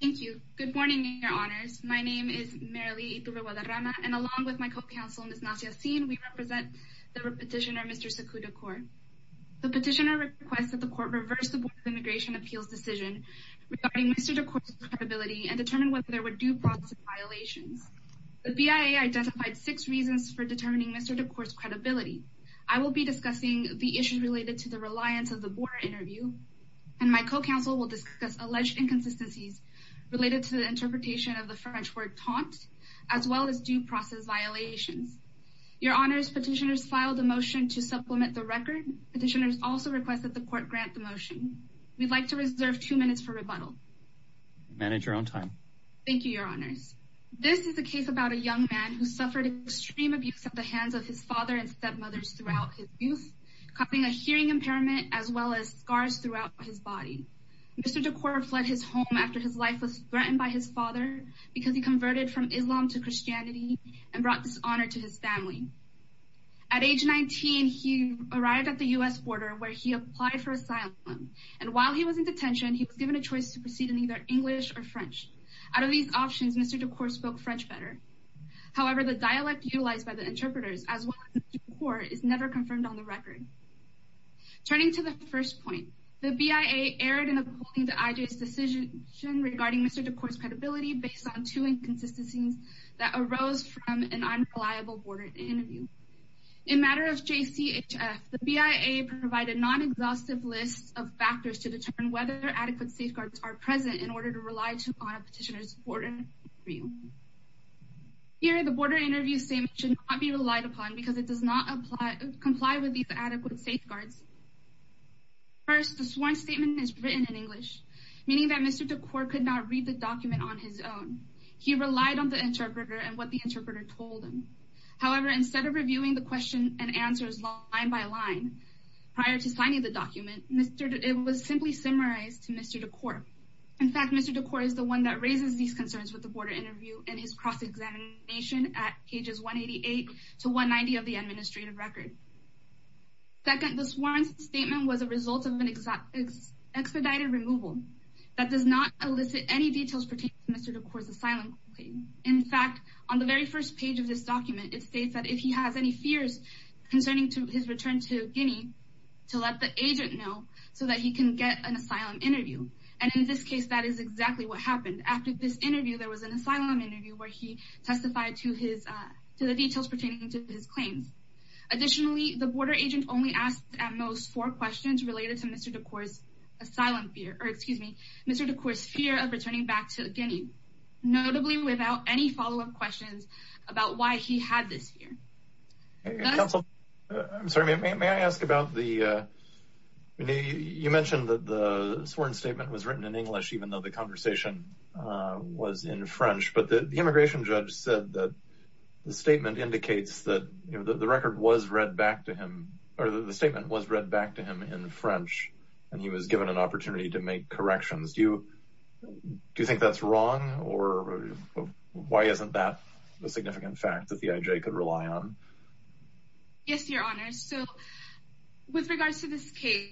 Thank you. Good morning, your honors. My name is Merilee Itubewadarama, and along with my co-counsel, Ms. Nasia Haseen, we represent the petitioner Mr. Sakou Doukoure. The petitioner requests that the court reverse the Board of Immigration Appeals' decision regarding Mr. Doukoure's credibility and determine whether there were due process violations. The BIA identified six reasons for determining Mr. Doukoure's credibility. I will be discussing the issues related to the reliance of the board interview, and my co-counsel will discuss alleged inconsistencies related to the interpretation of the French word taunt, as well as due process violations. Your honors, petitioners filed a motion to supplement the record. Petitioners also request that the court grant the motion. We'd like to reserve two minutes for rebuttal. Manage your own time. Thank you, your honors. This is a case about a young man who suffered extreme abuse at the hands of his father and stepmothers throughout his youth, causing a hearing impairment as well as scars throughout his body. Mr. Doukoure fled his home after his life was threatened by his father because he converted from Islam to Christianity and brought dishonor to his family. At age 19, he arrived at the U.S. border where he applied for asylum, and while he was in detention, he was given a choice to proceed in either English or French. Out of these options, Mr. Doukoure spoke French better. However, the dialect utilized by interpreters, as well as Mr. Doukoure, is never confirmed on the record. Turning to the first point, the BIA erred in appalling to IJ's decision regarding Mr. Doukoure's credibility based on two inconsistencies that arose from an unreliable border interview. In matter of JCHF, the BIA provided non-exhaustive lists of factors to determine whether adequate safeguards are present in order to rely upon a petitioner's border interview. Here, the border interview statement should not be relied upon because it does not comply with these adequate safeguards. First, the sworn statement is written in English, meaning that Mr. Doukoure could not read the document on his own. He relied on the interpreter and what the interpreter told him. However, instead of reviewing the question and answers line by line prior to signing the document, it was simply summarized to Mr. Doukoure. In fact, Mr. Doukoure is the one that raises these 188 to 190 of the administrative record. Second, the sworn statement was a result of an expedited removal that does not elicit any details pertaining to Mr. Doukoure's asylum. In fact, on the very first page of this document, it states that if he has any fears concerning his return to Guinea, to let the agent know so that he can get an asylum interview. And in this case, that is exactly what happened. After this interview, there was an asylum interview where he testified to the details pertaining to his claims. Additionally, the border agent only asked at most four questions related to Mr. Doukoure's asylum fear, or excuse me, Mr. Doukoure's fear of returning back to Guinea, notably without any follow-up questions about why he had this fear. Council, I'm sorry, may I ask about the, you mentioned that the sworn statement was written in English, even though the conversation was in French, but the immigration judge said that the statement indicates that the record was read back to him, or the statement was read back to him in French, and he was given an opportunity to make corrections. Do you think that's wrong, or why isn't that a significant fact that the IJ could rely on? Yes, Your Honor, so with regards to this case,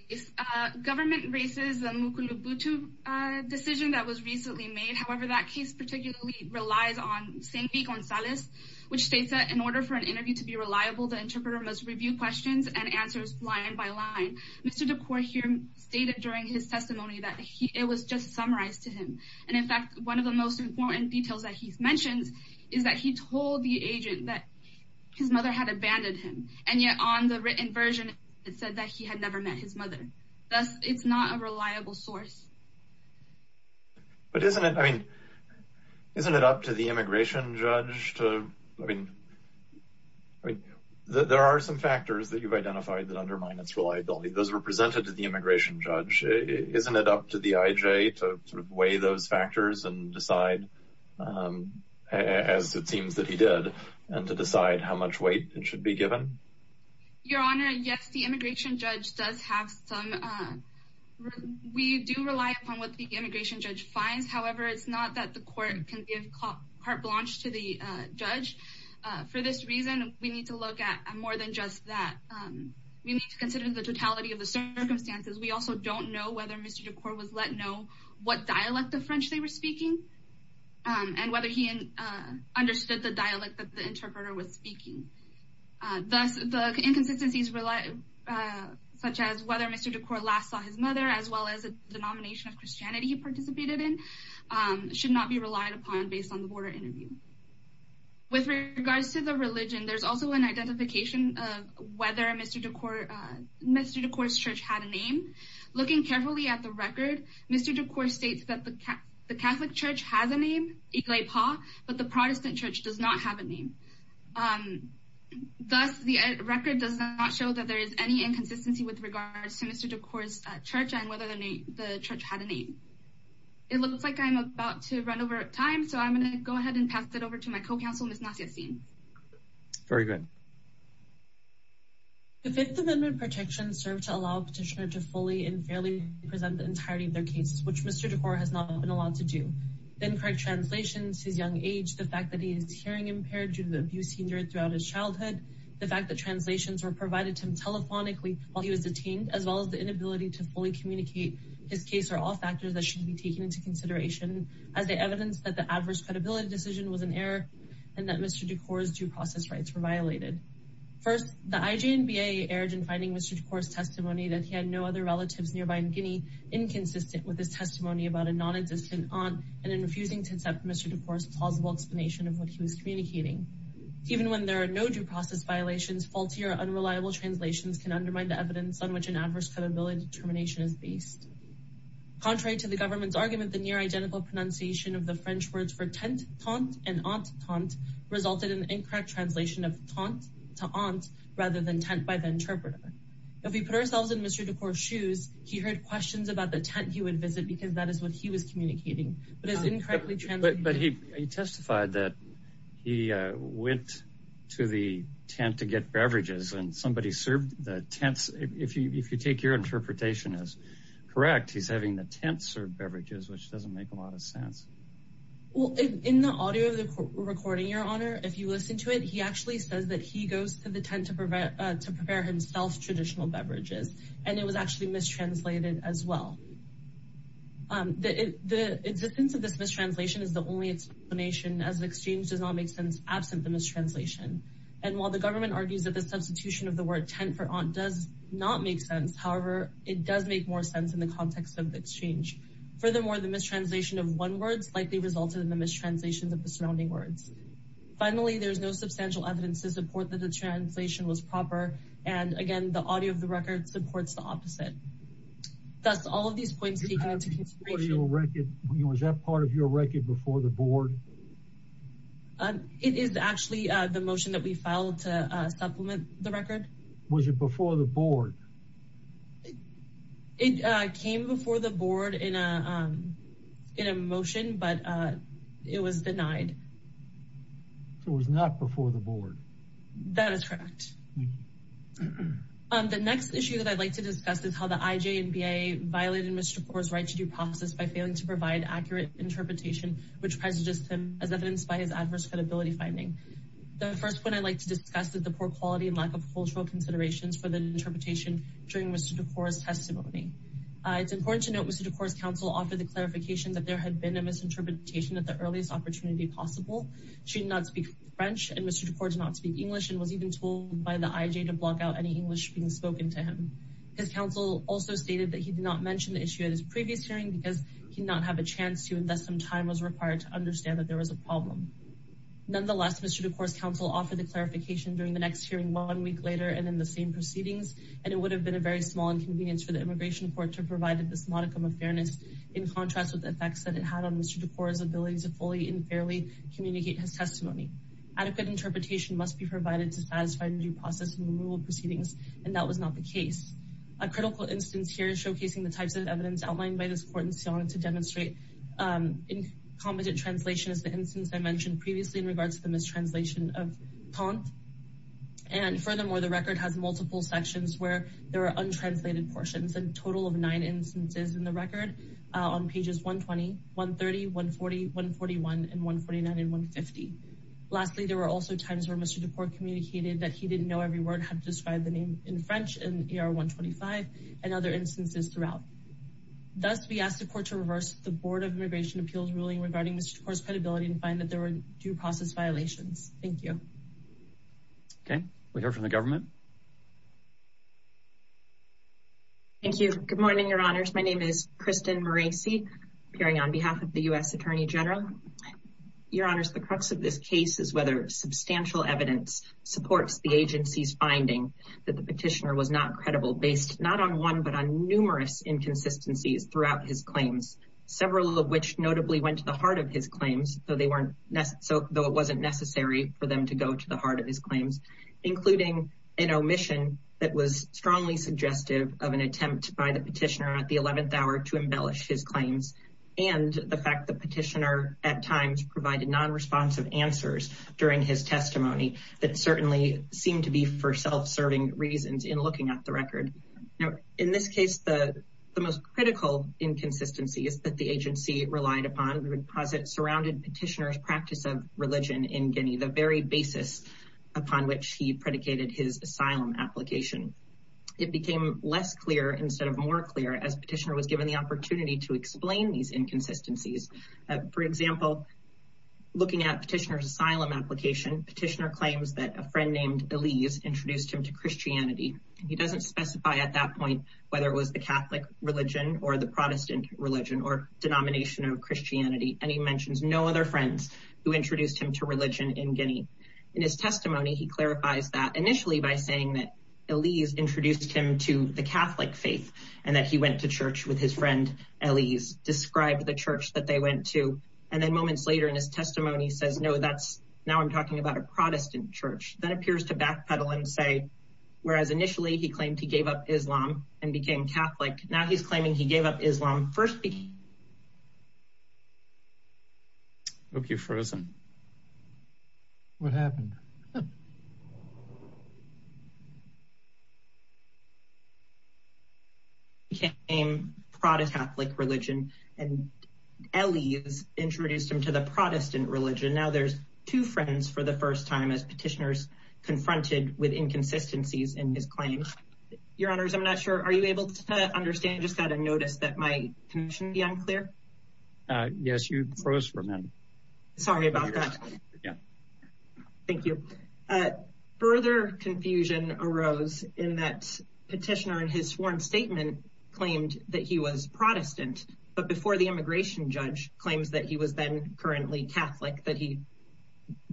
government raises the Mukulubutu decision that was recently made. However, that case particularly relies on Saint-Denis Gonzalez, which states that in order for an interview to be reliable, the interpreter must review questions and answers line by line. Mr. Doukoure here stated during his testimony that it was just summarized to him, and in fact, one of the most important details that he mentions is that he told the agent that his mother had abandoned him, and yet on the written version, it said that he had never met his mother. Thus, it's not a reliable source. But isn't it, I mean, isn't it up to the immigration judge to, I mean, I mean, there are some factors that you've identified that undermine its reliability. Those were presented to the immigration judge. Isn't it up to the IJ to sort of weigh those factors and decide, as it seems that he did, and to decide how much weight it should be given? Your Honor, yes, the immigration judge does have some... We do rely upon what the immigration judge finds. However, it's not that the court can give carte blanche to the judge. For this reason, we need to look at more than just that. We need to consider the totality of the circumstances. We also don't know whether Mr. Doukoure was let know what dialect of French they were speaking, and whether he understood the dialect that the interpreter was speaking. Thus, the inconsistencies such as whether Mr. Doukoure last saw his mother, as well as the denomination of Christianity he participated in, should not be relied upon based on the border interview. With regards to the religion, there's also an identification of whether Mr. Doukoure's church had a name. Looking carefully at the record, Mr. Doukoure states that the Catholic church has a name, Iglai Pa, but the Protestant church does not have a name. Thus, the record does not show that there is any inconsistency with regards to Mr. Doukoure's church, and whether the church had a name. It looks like I'm about to run over time, so I'm going to go ahead and pass it over to my co-counsel, Ms. Nassia Singh. Very good. The Fifth Amendment protections serve to allow a petitioner to fully and fairly present the entirety of their cases, which Mr. Doukoure has not been allowed to do. Incorrect translations, his young age, the fact that he is hearing impaired due to the abuse throughout his childhood, the fact that translations were provided to him telephonically while he was detained, as well as the inability to fully communicate his case, are all factors that should be taken into consideration as the evidence that the adverse credibility decision was an error, and that Mr. Doukoure's due process rights were violated. First, the IJNBA erred in finding Mr. Doukoure's testimony that he had no other relatives nearby in Guinea, inconsistent with his testimony about a non-existent aunt, and in refusing to accept Mr. Doukoure's plausible explanation of what he was communicating. Even when there are no due process violations, faulty or unreliable translations can undermine the evidence on which an adverse credibility determination is based. Contrary to the government's argument, the near-identical pronunciation of the French words for tent, tente, and aunt, tente, resulted in an incorrect translation of tente to aunt, rather than tent by the interpreter. If we put ourselves in Mr. Doukoure's shoes, he heard questions about the tent he would visit because that is what he was hearing. In the audio of the recording, your honor, if you listen to it, he actually says that he goes to the tent to prepare himself traditional beverages, and it was actually Mr. Doukoure's aunt. And while the government argues that the substitution of the word tent for aunt does not make sense, however, it does make more sense in the context of the exchange. Furthermore, the mistranslation of one word slightly resulted in the mistranslations of the surrounding words. Finally, there is no substantial evidence to support that the translation was proper, and again, the audio of the record supports the opposite. Thus, all of these points lead to consideration. Was that part of your record before the board? It is actually the motion that we filed to supplement the record. Was it before the board? It came before the board in a motion, but it was denied. So it was not before the board. That is correct. The next issue that I'd like to discuss is how the IJ and BIA violated Mr. Doukoure's right to process by failing to provide accurate interpretation, which presages him as evidenced by his adverse credibility finding. The first point I'd like to discuss is the poor quality and lack of cultural considerations for the interpretation during Mr. Doukoure's testimony. It's important to note Mr. Doukoure's counsel offered the clarification that there had been a misinterpretation at the earliest opportunity possible. She did not speak French, and Mr. Doukoure did not speak English and was even told by the IJ to block out any English being spoken to His counsel also stated that he did not mention the issue at his previous hearing because he did not have a chance to invest some time was required to understand that there was a problem. Nonetheless, Mr. Doukoure's counsel offered the clarification during the next hearing one week later and in the same proceedings, and it would have been a very small inconvenience for the immigration court to provide this modicum of fairness in contrast with the effects that it had on Mr. Doukoure's ability to fully and fairly communicate his testimony. Adequate interpretation must be provided to a critical instance. Here is showcasing the types of evidence outlined by this court in Sion to demonstrate incompetent translation as the instance I mentioned previously in regards to the mistranslation of Tante. And furthermore, the record has multiple sections where there are untranslated portions and total of nine instances in the record on pages 120, 130, 140, 141, and 149, and 150. Lastly, there were also times where Mr. Doukoure communicated that he didn't know every name in French in ER 125 and other instances throughout. Thus, we ask the court to reverse the Board of Immigration Appeals ruling regarding Mr. Doukoure's credibility and find that there were due process violations. Thank you. Okay, we hear from the government. Thank you. Good morning, Your Honors. My name is Kristen Morace, appearing on behalf of the U.S. Attorney General. Your Honors, the crux of this case is whether substantial evidence supports the agency's finding that the petitioner was not credible based not on one, but on numerous inconsistencies throughout his claims, several of which notably went to the heart of his claims, though it wasn't necessary for them to go to the heart of his claims, including an omission that was strongly suggestive of an attempt by the petitioner at the 11th hour to embellish his claims, and the fact the petitioner at times provided non-responsive answers during his testimony that certainly seemed to be for self-serving reasons in looking at the record. Now, in this case, the most critical inconsistency is that the agency relied upon, we would posit, surrounded petitioner's practice of religion in Guinea, the very basis upon which he predicated his asylum application. It became less clear instead of more clear as petitioner was given the opportunity to explain these inconsistencies. For example, looking at petitioner's asylum application, petitioner claims that a friend named Elise introduced him to Christianity, and he doesn't specify at that point whether it was the Catholic religion or the Protestant religion or denomination of Christianity, and he mentions no other friends who introduced him to religion in Guinea. In his testimony, he clarifies that initially by saying that Elise introduced him to the Catholic faith and that he went to church with his friend Elise, described the church that they went to, and then moments later in his testimony says, no, that's, now I'm talking about a Protestant church. That appears to backpedal and say, whereas initially he claimed he gave up Islam and became Catholic, now he's claiming he gave up Islam first. Okay, frozen. What happened? He became Protestant, Catholic religion, and Elise introduced him to the Protestant religion. Now there's two friends for the first time as petitioners confronted with inconsistencies in his claims. Your honors, I'm not sure, are you able to understand? I just got a notice that my motion be unclear? Yes, you froze for a minute. Sorry about that. Yeah, thank you. Further confusion arose in that petitioner in his sworn statement claimed that he was Protestant, but before the immigration judge claims that he was then currently Catholic, that he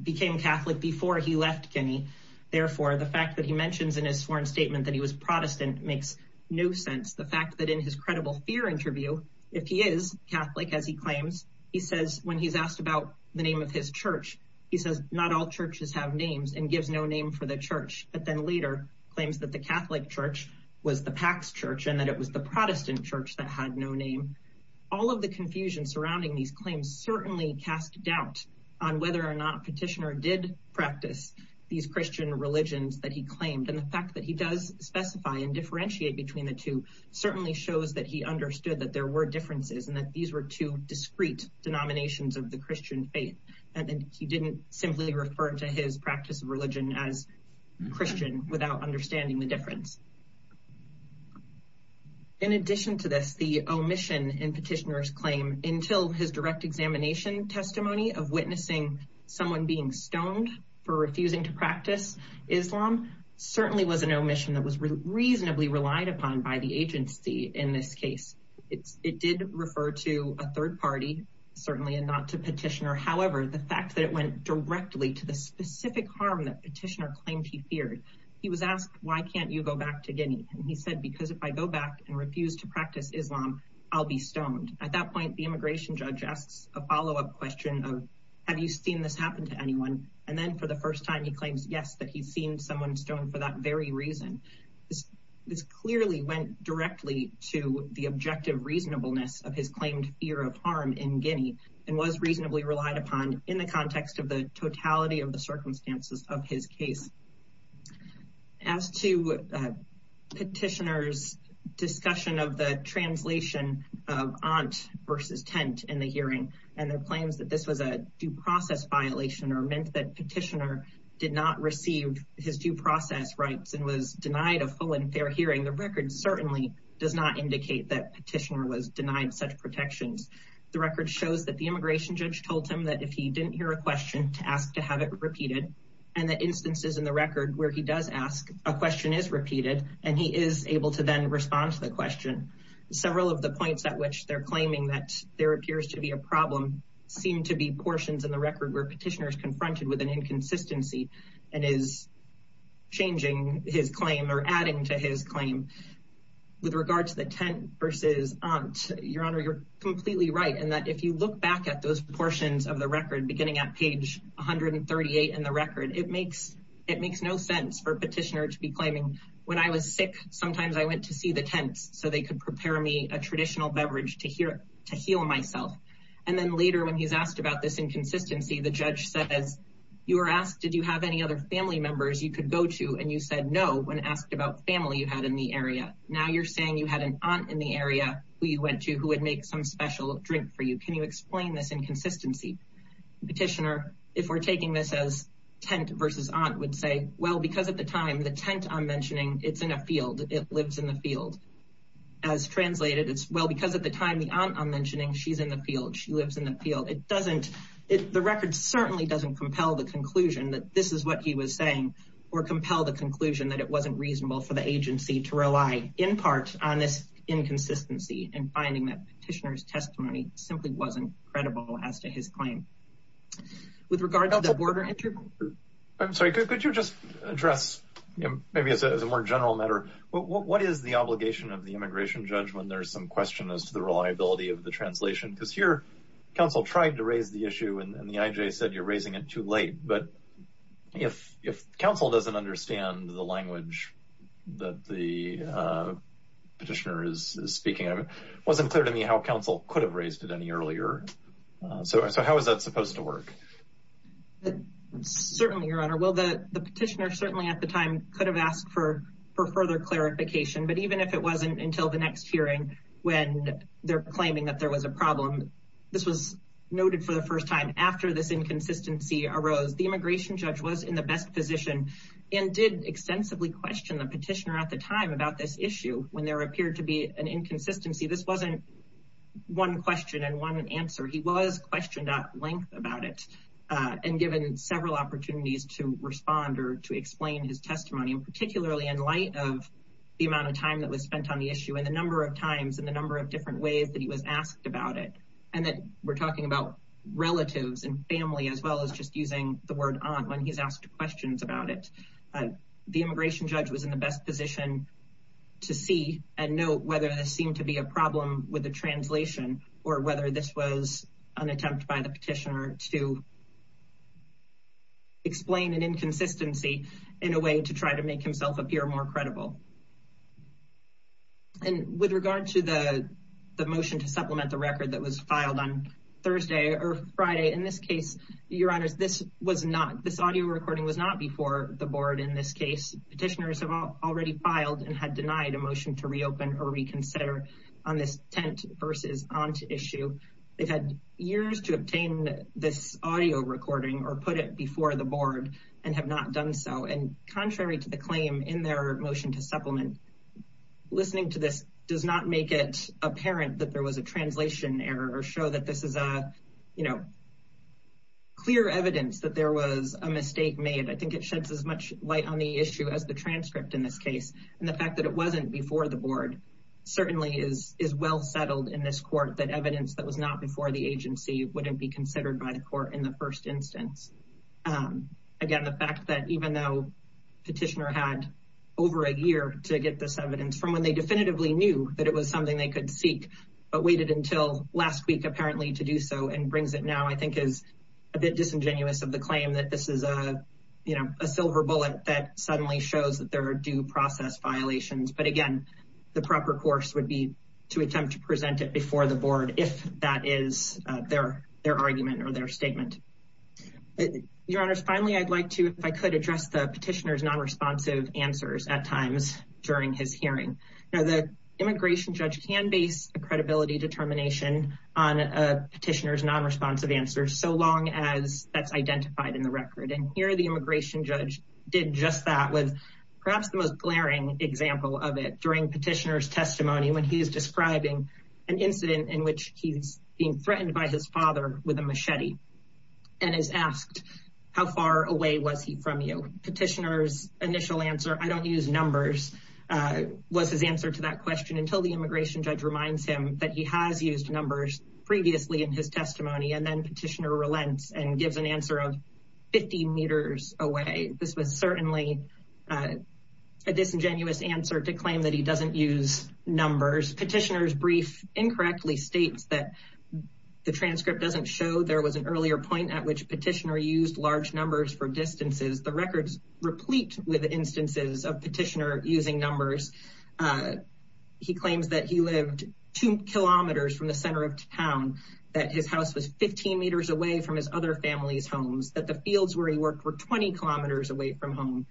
became Catholic before he left Guinea. Therefore, the fact that he mentions in his sworn statement that he was Protestant makes no sense. The fact that in his credible fear interview, if he is Catholic, as he claims, he says when he's asked about the name of his church, he says, not all churches have names and gives no name for the church, but then later claims that the Catholic church was the Pax church and that it was the Protestant church that had no name. All of the confusion surrounding these claims certainly cast doubt on whether or not petitioner did practice these Christian religions that he claimed. The fact that he does specify and differentiate between the two certainly shows that he understood that there were differences and that these were two discrete denominations of the Christian faith. He didn't simply refer to his practice of religion as Christian without understanding the difference. In addition to this, the omission in petitioner's claim until his direct examination testimony of someone being stoned for refusing to practice Islam certainly was an omission that was reasonably relied upon by the agency in this case. It did refer to a third party, certainly not to petitioner. However, the fact that it went directly to the specific harm that petitioner claimed he feared, he was asked, why can't you go back to Guinea? And he said, because if I go back and refuse to practice Islam, I'll be stoned. At that point, the immigration judge asks a follow-up question of, have you seen this happen to anyone? And then for the first time, he claims, yes, that he's seen someone stoned for that very reason. This clearly went directly to the objective reasonableness of his claimed fear of harm in Guinea and was reasonably relied upon in the context of the totality of the circumstances of his case. As to petitioner's translation of aunt versus tent in the hearing, and their claims that this was a due process violation or meant that petitioner did not receive his due process rights and was denied a full and fair hearing, the record certainly does not indicate that petitioner was denied such protections. The record shows that the immigration judge told him that if he didn't hear a question to ask to have it repeated, and the instances in the record where he does ask a question is repeated, and he is able to then respond to the question. Several of the points at which they're claiming that there appears to be a problem seem to be portions in the record where petitioner is confronted with an inconsistency and is changing his claim or adding to his claim. With regard to the tent versus aunt, your honor, you're completely right, in that if you look back at those portions of the record, beginning at page 138 in the record, it makes no sense for a petitioner to be claiming, when I was sick, sometimes I went to see the tents so they could prepare me a traditional beverage to heal myself. And then later when he's asked about this inconsistency, the judge says, you were asked, did you have any other family members you could go to? And you said no when asked about family you had in the area. Now you're saying you had an aunt in the area who you went to who would make some special drink for you. Can you explain this inconsistency? Petitioner, if we're it's in a field, it lives in the field. As translated, it's well because at the time the aunt I'm mentioning, she's in the field, she lives in the field. It doesn't, the record certainly doesn't compel the conclusion that this is what he was saying or compel the conclusion that it wasn't reasonable for the agency to rely in part on this inconsistency and finding that petitioner's testimony simply wasn't credible as to his claim. With regard to the border. I'm sorry, could you just address, maybe as a more general matter, what is the obligation of the immigration judge when there's some question as to the reliability of the translation? Because here, council tried to raise the issue and the IJ said you're raising it too late. But if council doesn't understand the language that the petitioner is speaking of, it wasn't clear to me how council could have raised it any earlier. So how is that supposed to work? Certainly, your honor. Well, the petitioner certainly at the time could have asked for further clarification. But even if it wasn't until the next hearing, when they're claiming that there was a problem, this was noted for the first time after this inconsistency arose, the immigration judge was in the best position and did extensively question the petitioner at the time about this issue. When there appeared to be an inconsistency, this wasn't one question and one answer. He was to explain his testimony and particularly in light of the amount of time that was spent on the issue and the number of times and the number of different ways that he was asked about it. And that we're talking about relatives and family as well as just using the word on when he's asked questions about it. The immigration judge was in the best position to see and know whether this seemed to be a problem with the translation or whether this was an attempt by the petitioner to explain an inconsistency in a way to try to make himself appear more credible. And with regard to the motion to supplement the record that was filed on Thursday or Friday, in this case, your honors, this audio recording was not before the board in this case. Petitioners have already filed and had denied a motion to reopen or reconsider on this tent versus aunt issue. They've had years to obtain this audio recording or put it before the board and have not done so. And contrary to the claim in their motion to supplement, listening to this does not make it apparent that there was a translation error or show that this is a clear evidence that there was a mistake made. I think it sheds as much light on the issue as the transcript in this case. And the fact that it wasn't before the board certainly is well settled in this court, that evidence that was not before the agency wouldn't be considered by the court in the first instance. Again, the fact that even though petitioner had over a year to get this evidence from when they definitively knew that it was something they could seek, but waited until last week apparently to do so and brings it now, I think is a bit disingenuous of the claim that this is a silver bullet that suddenly shows that there are due process violations. But again, the proper course would be to attempt to present it before the board if that is their argument or their statement. Your honors, finally, I'd like to, if I could address the petitioner's non-responsive answers at times during his hearing. Now the immigration judge can base a credibility determination on a petitioner's non-responsive answers so long as that's identified in the record. And here the immigration judge did just that with perhaps the most glaring example of it during petitioner's testimony when he is describing an incident in which he's being threatened by his father with a machete and is asked how far away was he from you. Petitioner's initial answer, I don't use numbers, was his answer to that question until the immigration judge reminds him that he has used numbers previously in his testimony and then petitioner relents and gives an answer of 50 meters away. This was certainly a disingenuous answer to claim that he doesn't use numbers. Petitioner's brief incorrectly states that the transcript doesn't show there was an earlier point at which petitioner used large numbers for distances. The records replete with instances of petitioner using numbers. He claims that he lived two kilometers from the center of town, that his house was 15 meters away from his other family's homes, that the fields where he worked were 20 kilometers away from home.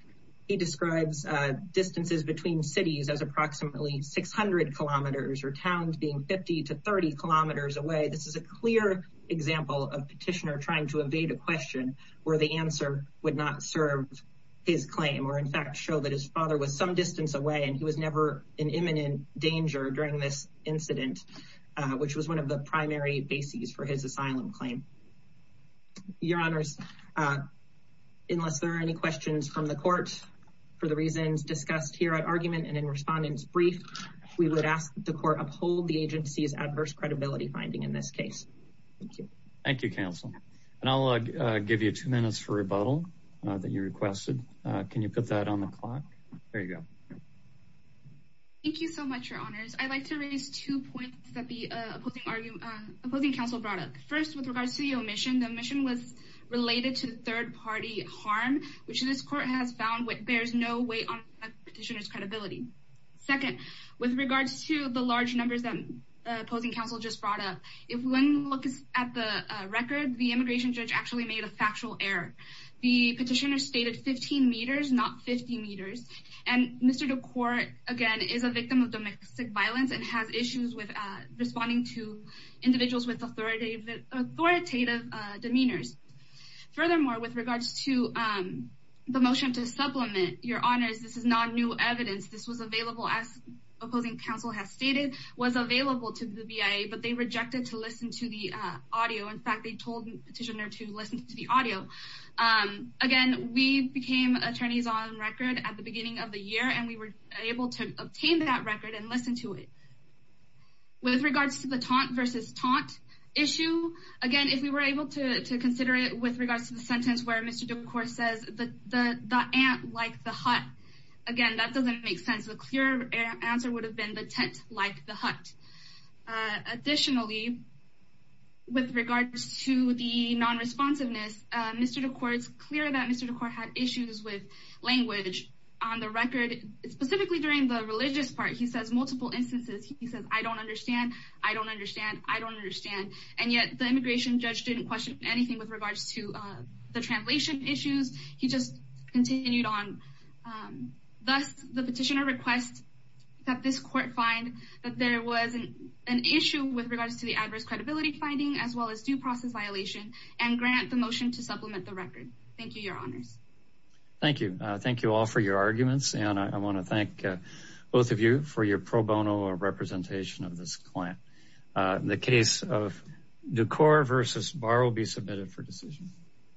He describes distances between cities as approximately 600 kilometers or towns being 50 to 30 kilometers away. This is a clear example of petitioner trying to evade a question where the answer would not serve his claim or in fact show that his father was some distance away and he was never in imminent danger during this incident, which was one of the primary bases for his asylum claim. Your honors, unless there are any questions from the court for the reasons discussed here at argument and in respondent's brief, we would ask the court uphold the agency's adverse credibility finding in this case. Thank you. Thank you, counsel, and I'll give you two minutes for rebuttal that you requested. Can you put that on the clock? There you go. Thank you so much, your honors. I'd like to raise two points that the opposing counsel brought up. First, with regards to the omission, the omission was related to third-party harm, which this court has found bears no weight on petitioner's credibility. Second, with regards to the large numbers that the opposing counsel just brought up, if one looks at the record, the immigration judge actually made a factual error. The petitioner stated 15 meters, not 50 meters, and Mr. DeCourt, again, is a victim of domestic violence and has issues with responding to individuals with authoritative demeanors. Furthermore, with regards to the motion to supplement, your honors, this is not new evidence. This was available, as opposing counsel has stated, was available to the BIA, but they rejected to listen to the audio. In fact, they told the petitioner to listen to the audio. Again, we became attorneys on record at the beginning of the year, and we were able to obtain that record and listen to it. With regards to the taunt versus taunt issue, again, if we were able to consider it with regards to the sentence where Mr. DeCourt says, the ant like the hut, again, that doesn't make sense. The clearer answer would have been the tent like the hut. Additionally, with regards to the non-responsiveness, Mr. DeCourt, it's clear that Mr. DeCourt had issues with language on the record, specifically during the religious part. He says multiple instances. He says, I don't understand, I don't understand, I don't understand, and yet the immigration judge didn't question anything with regards to the translation issues. He just continued on. Thus, the petitioner requests that this court find that there was an issue with regards to the adverse credibility finding, as well as due process violation, and grant the motion to supplement the record. Thank you, your honors. Thank you. Thank you all for your arguments, and I want to thank both of you for your pro bono representation of this client. The case of DeCourt versus Barr will be submitted for decision.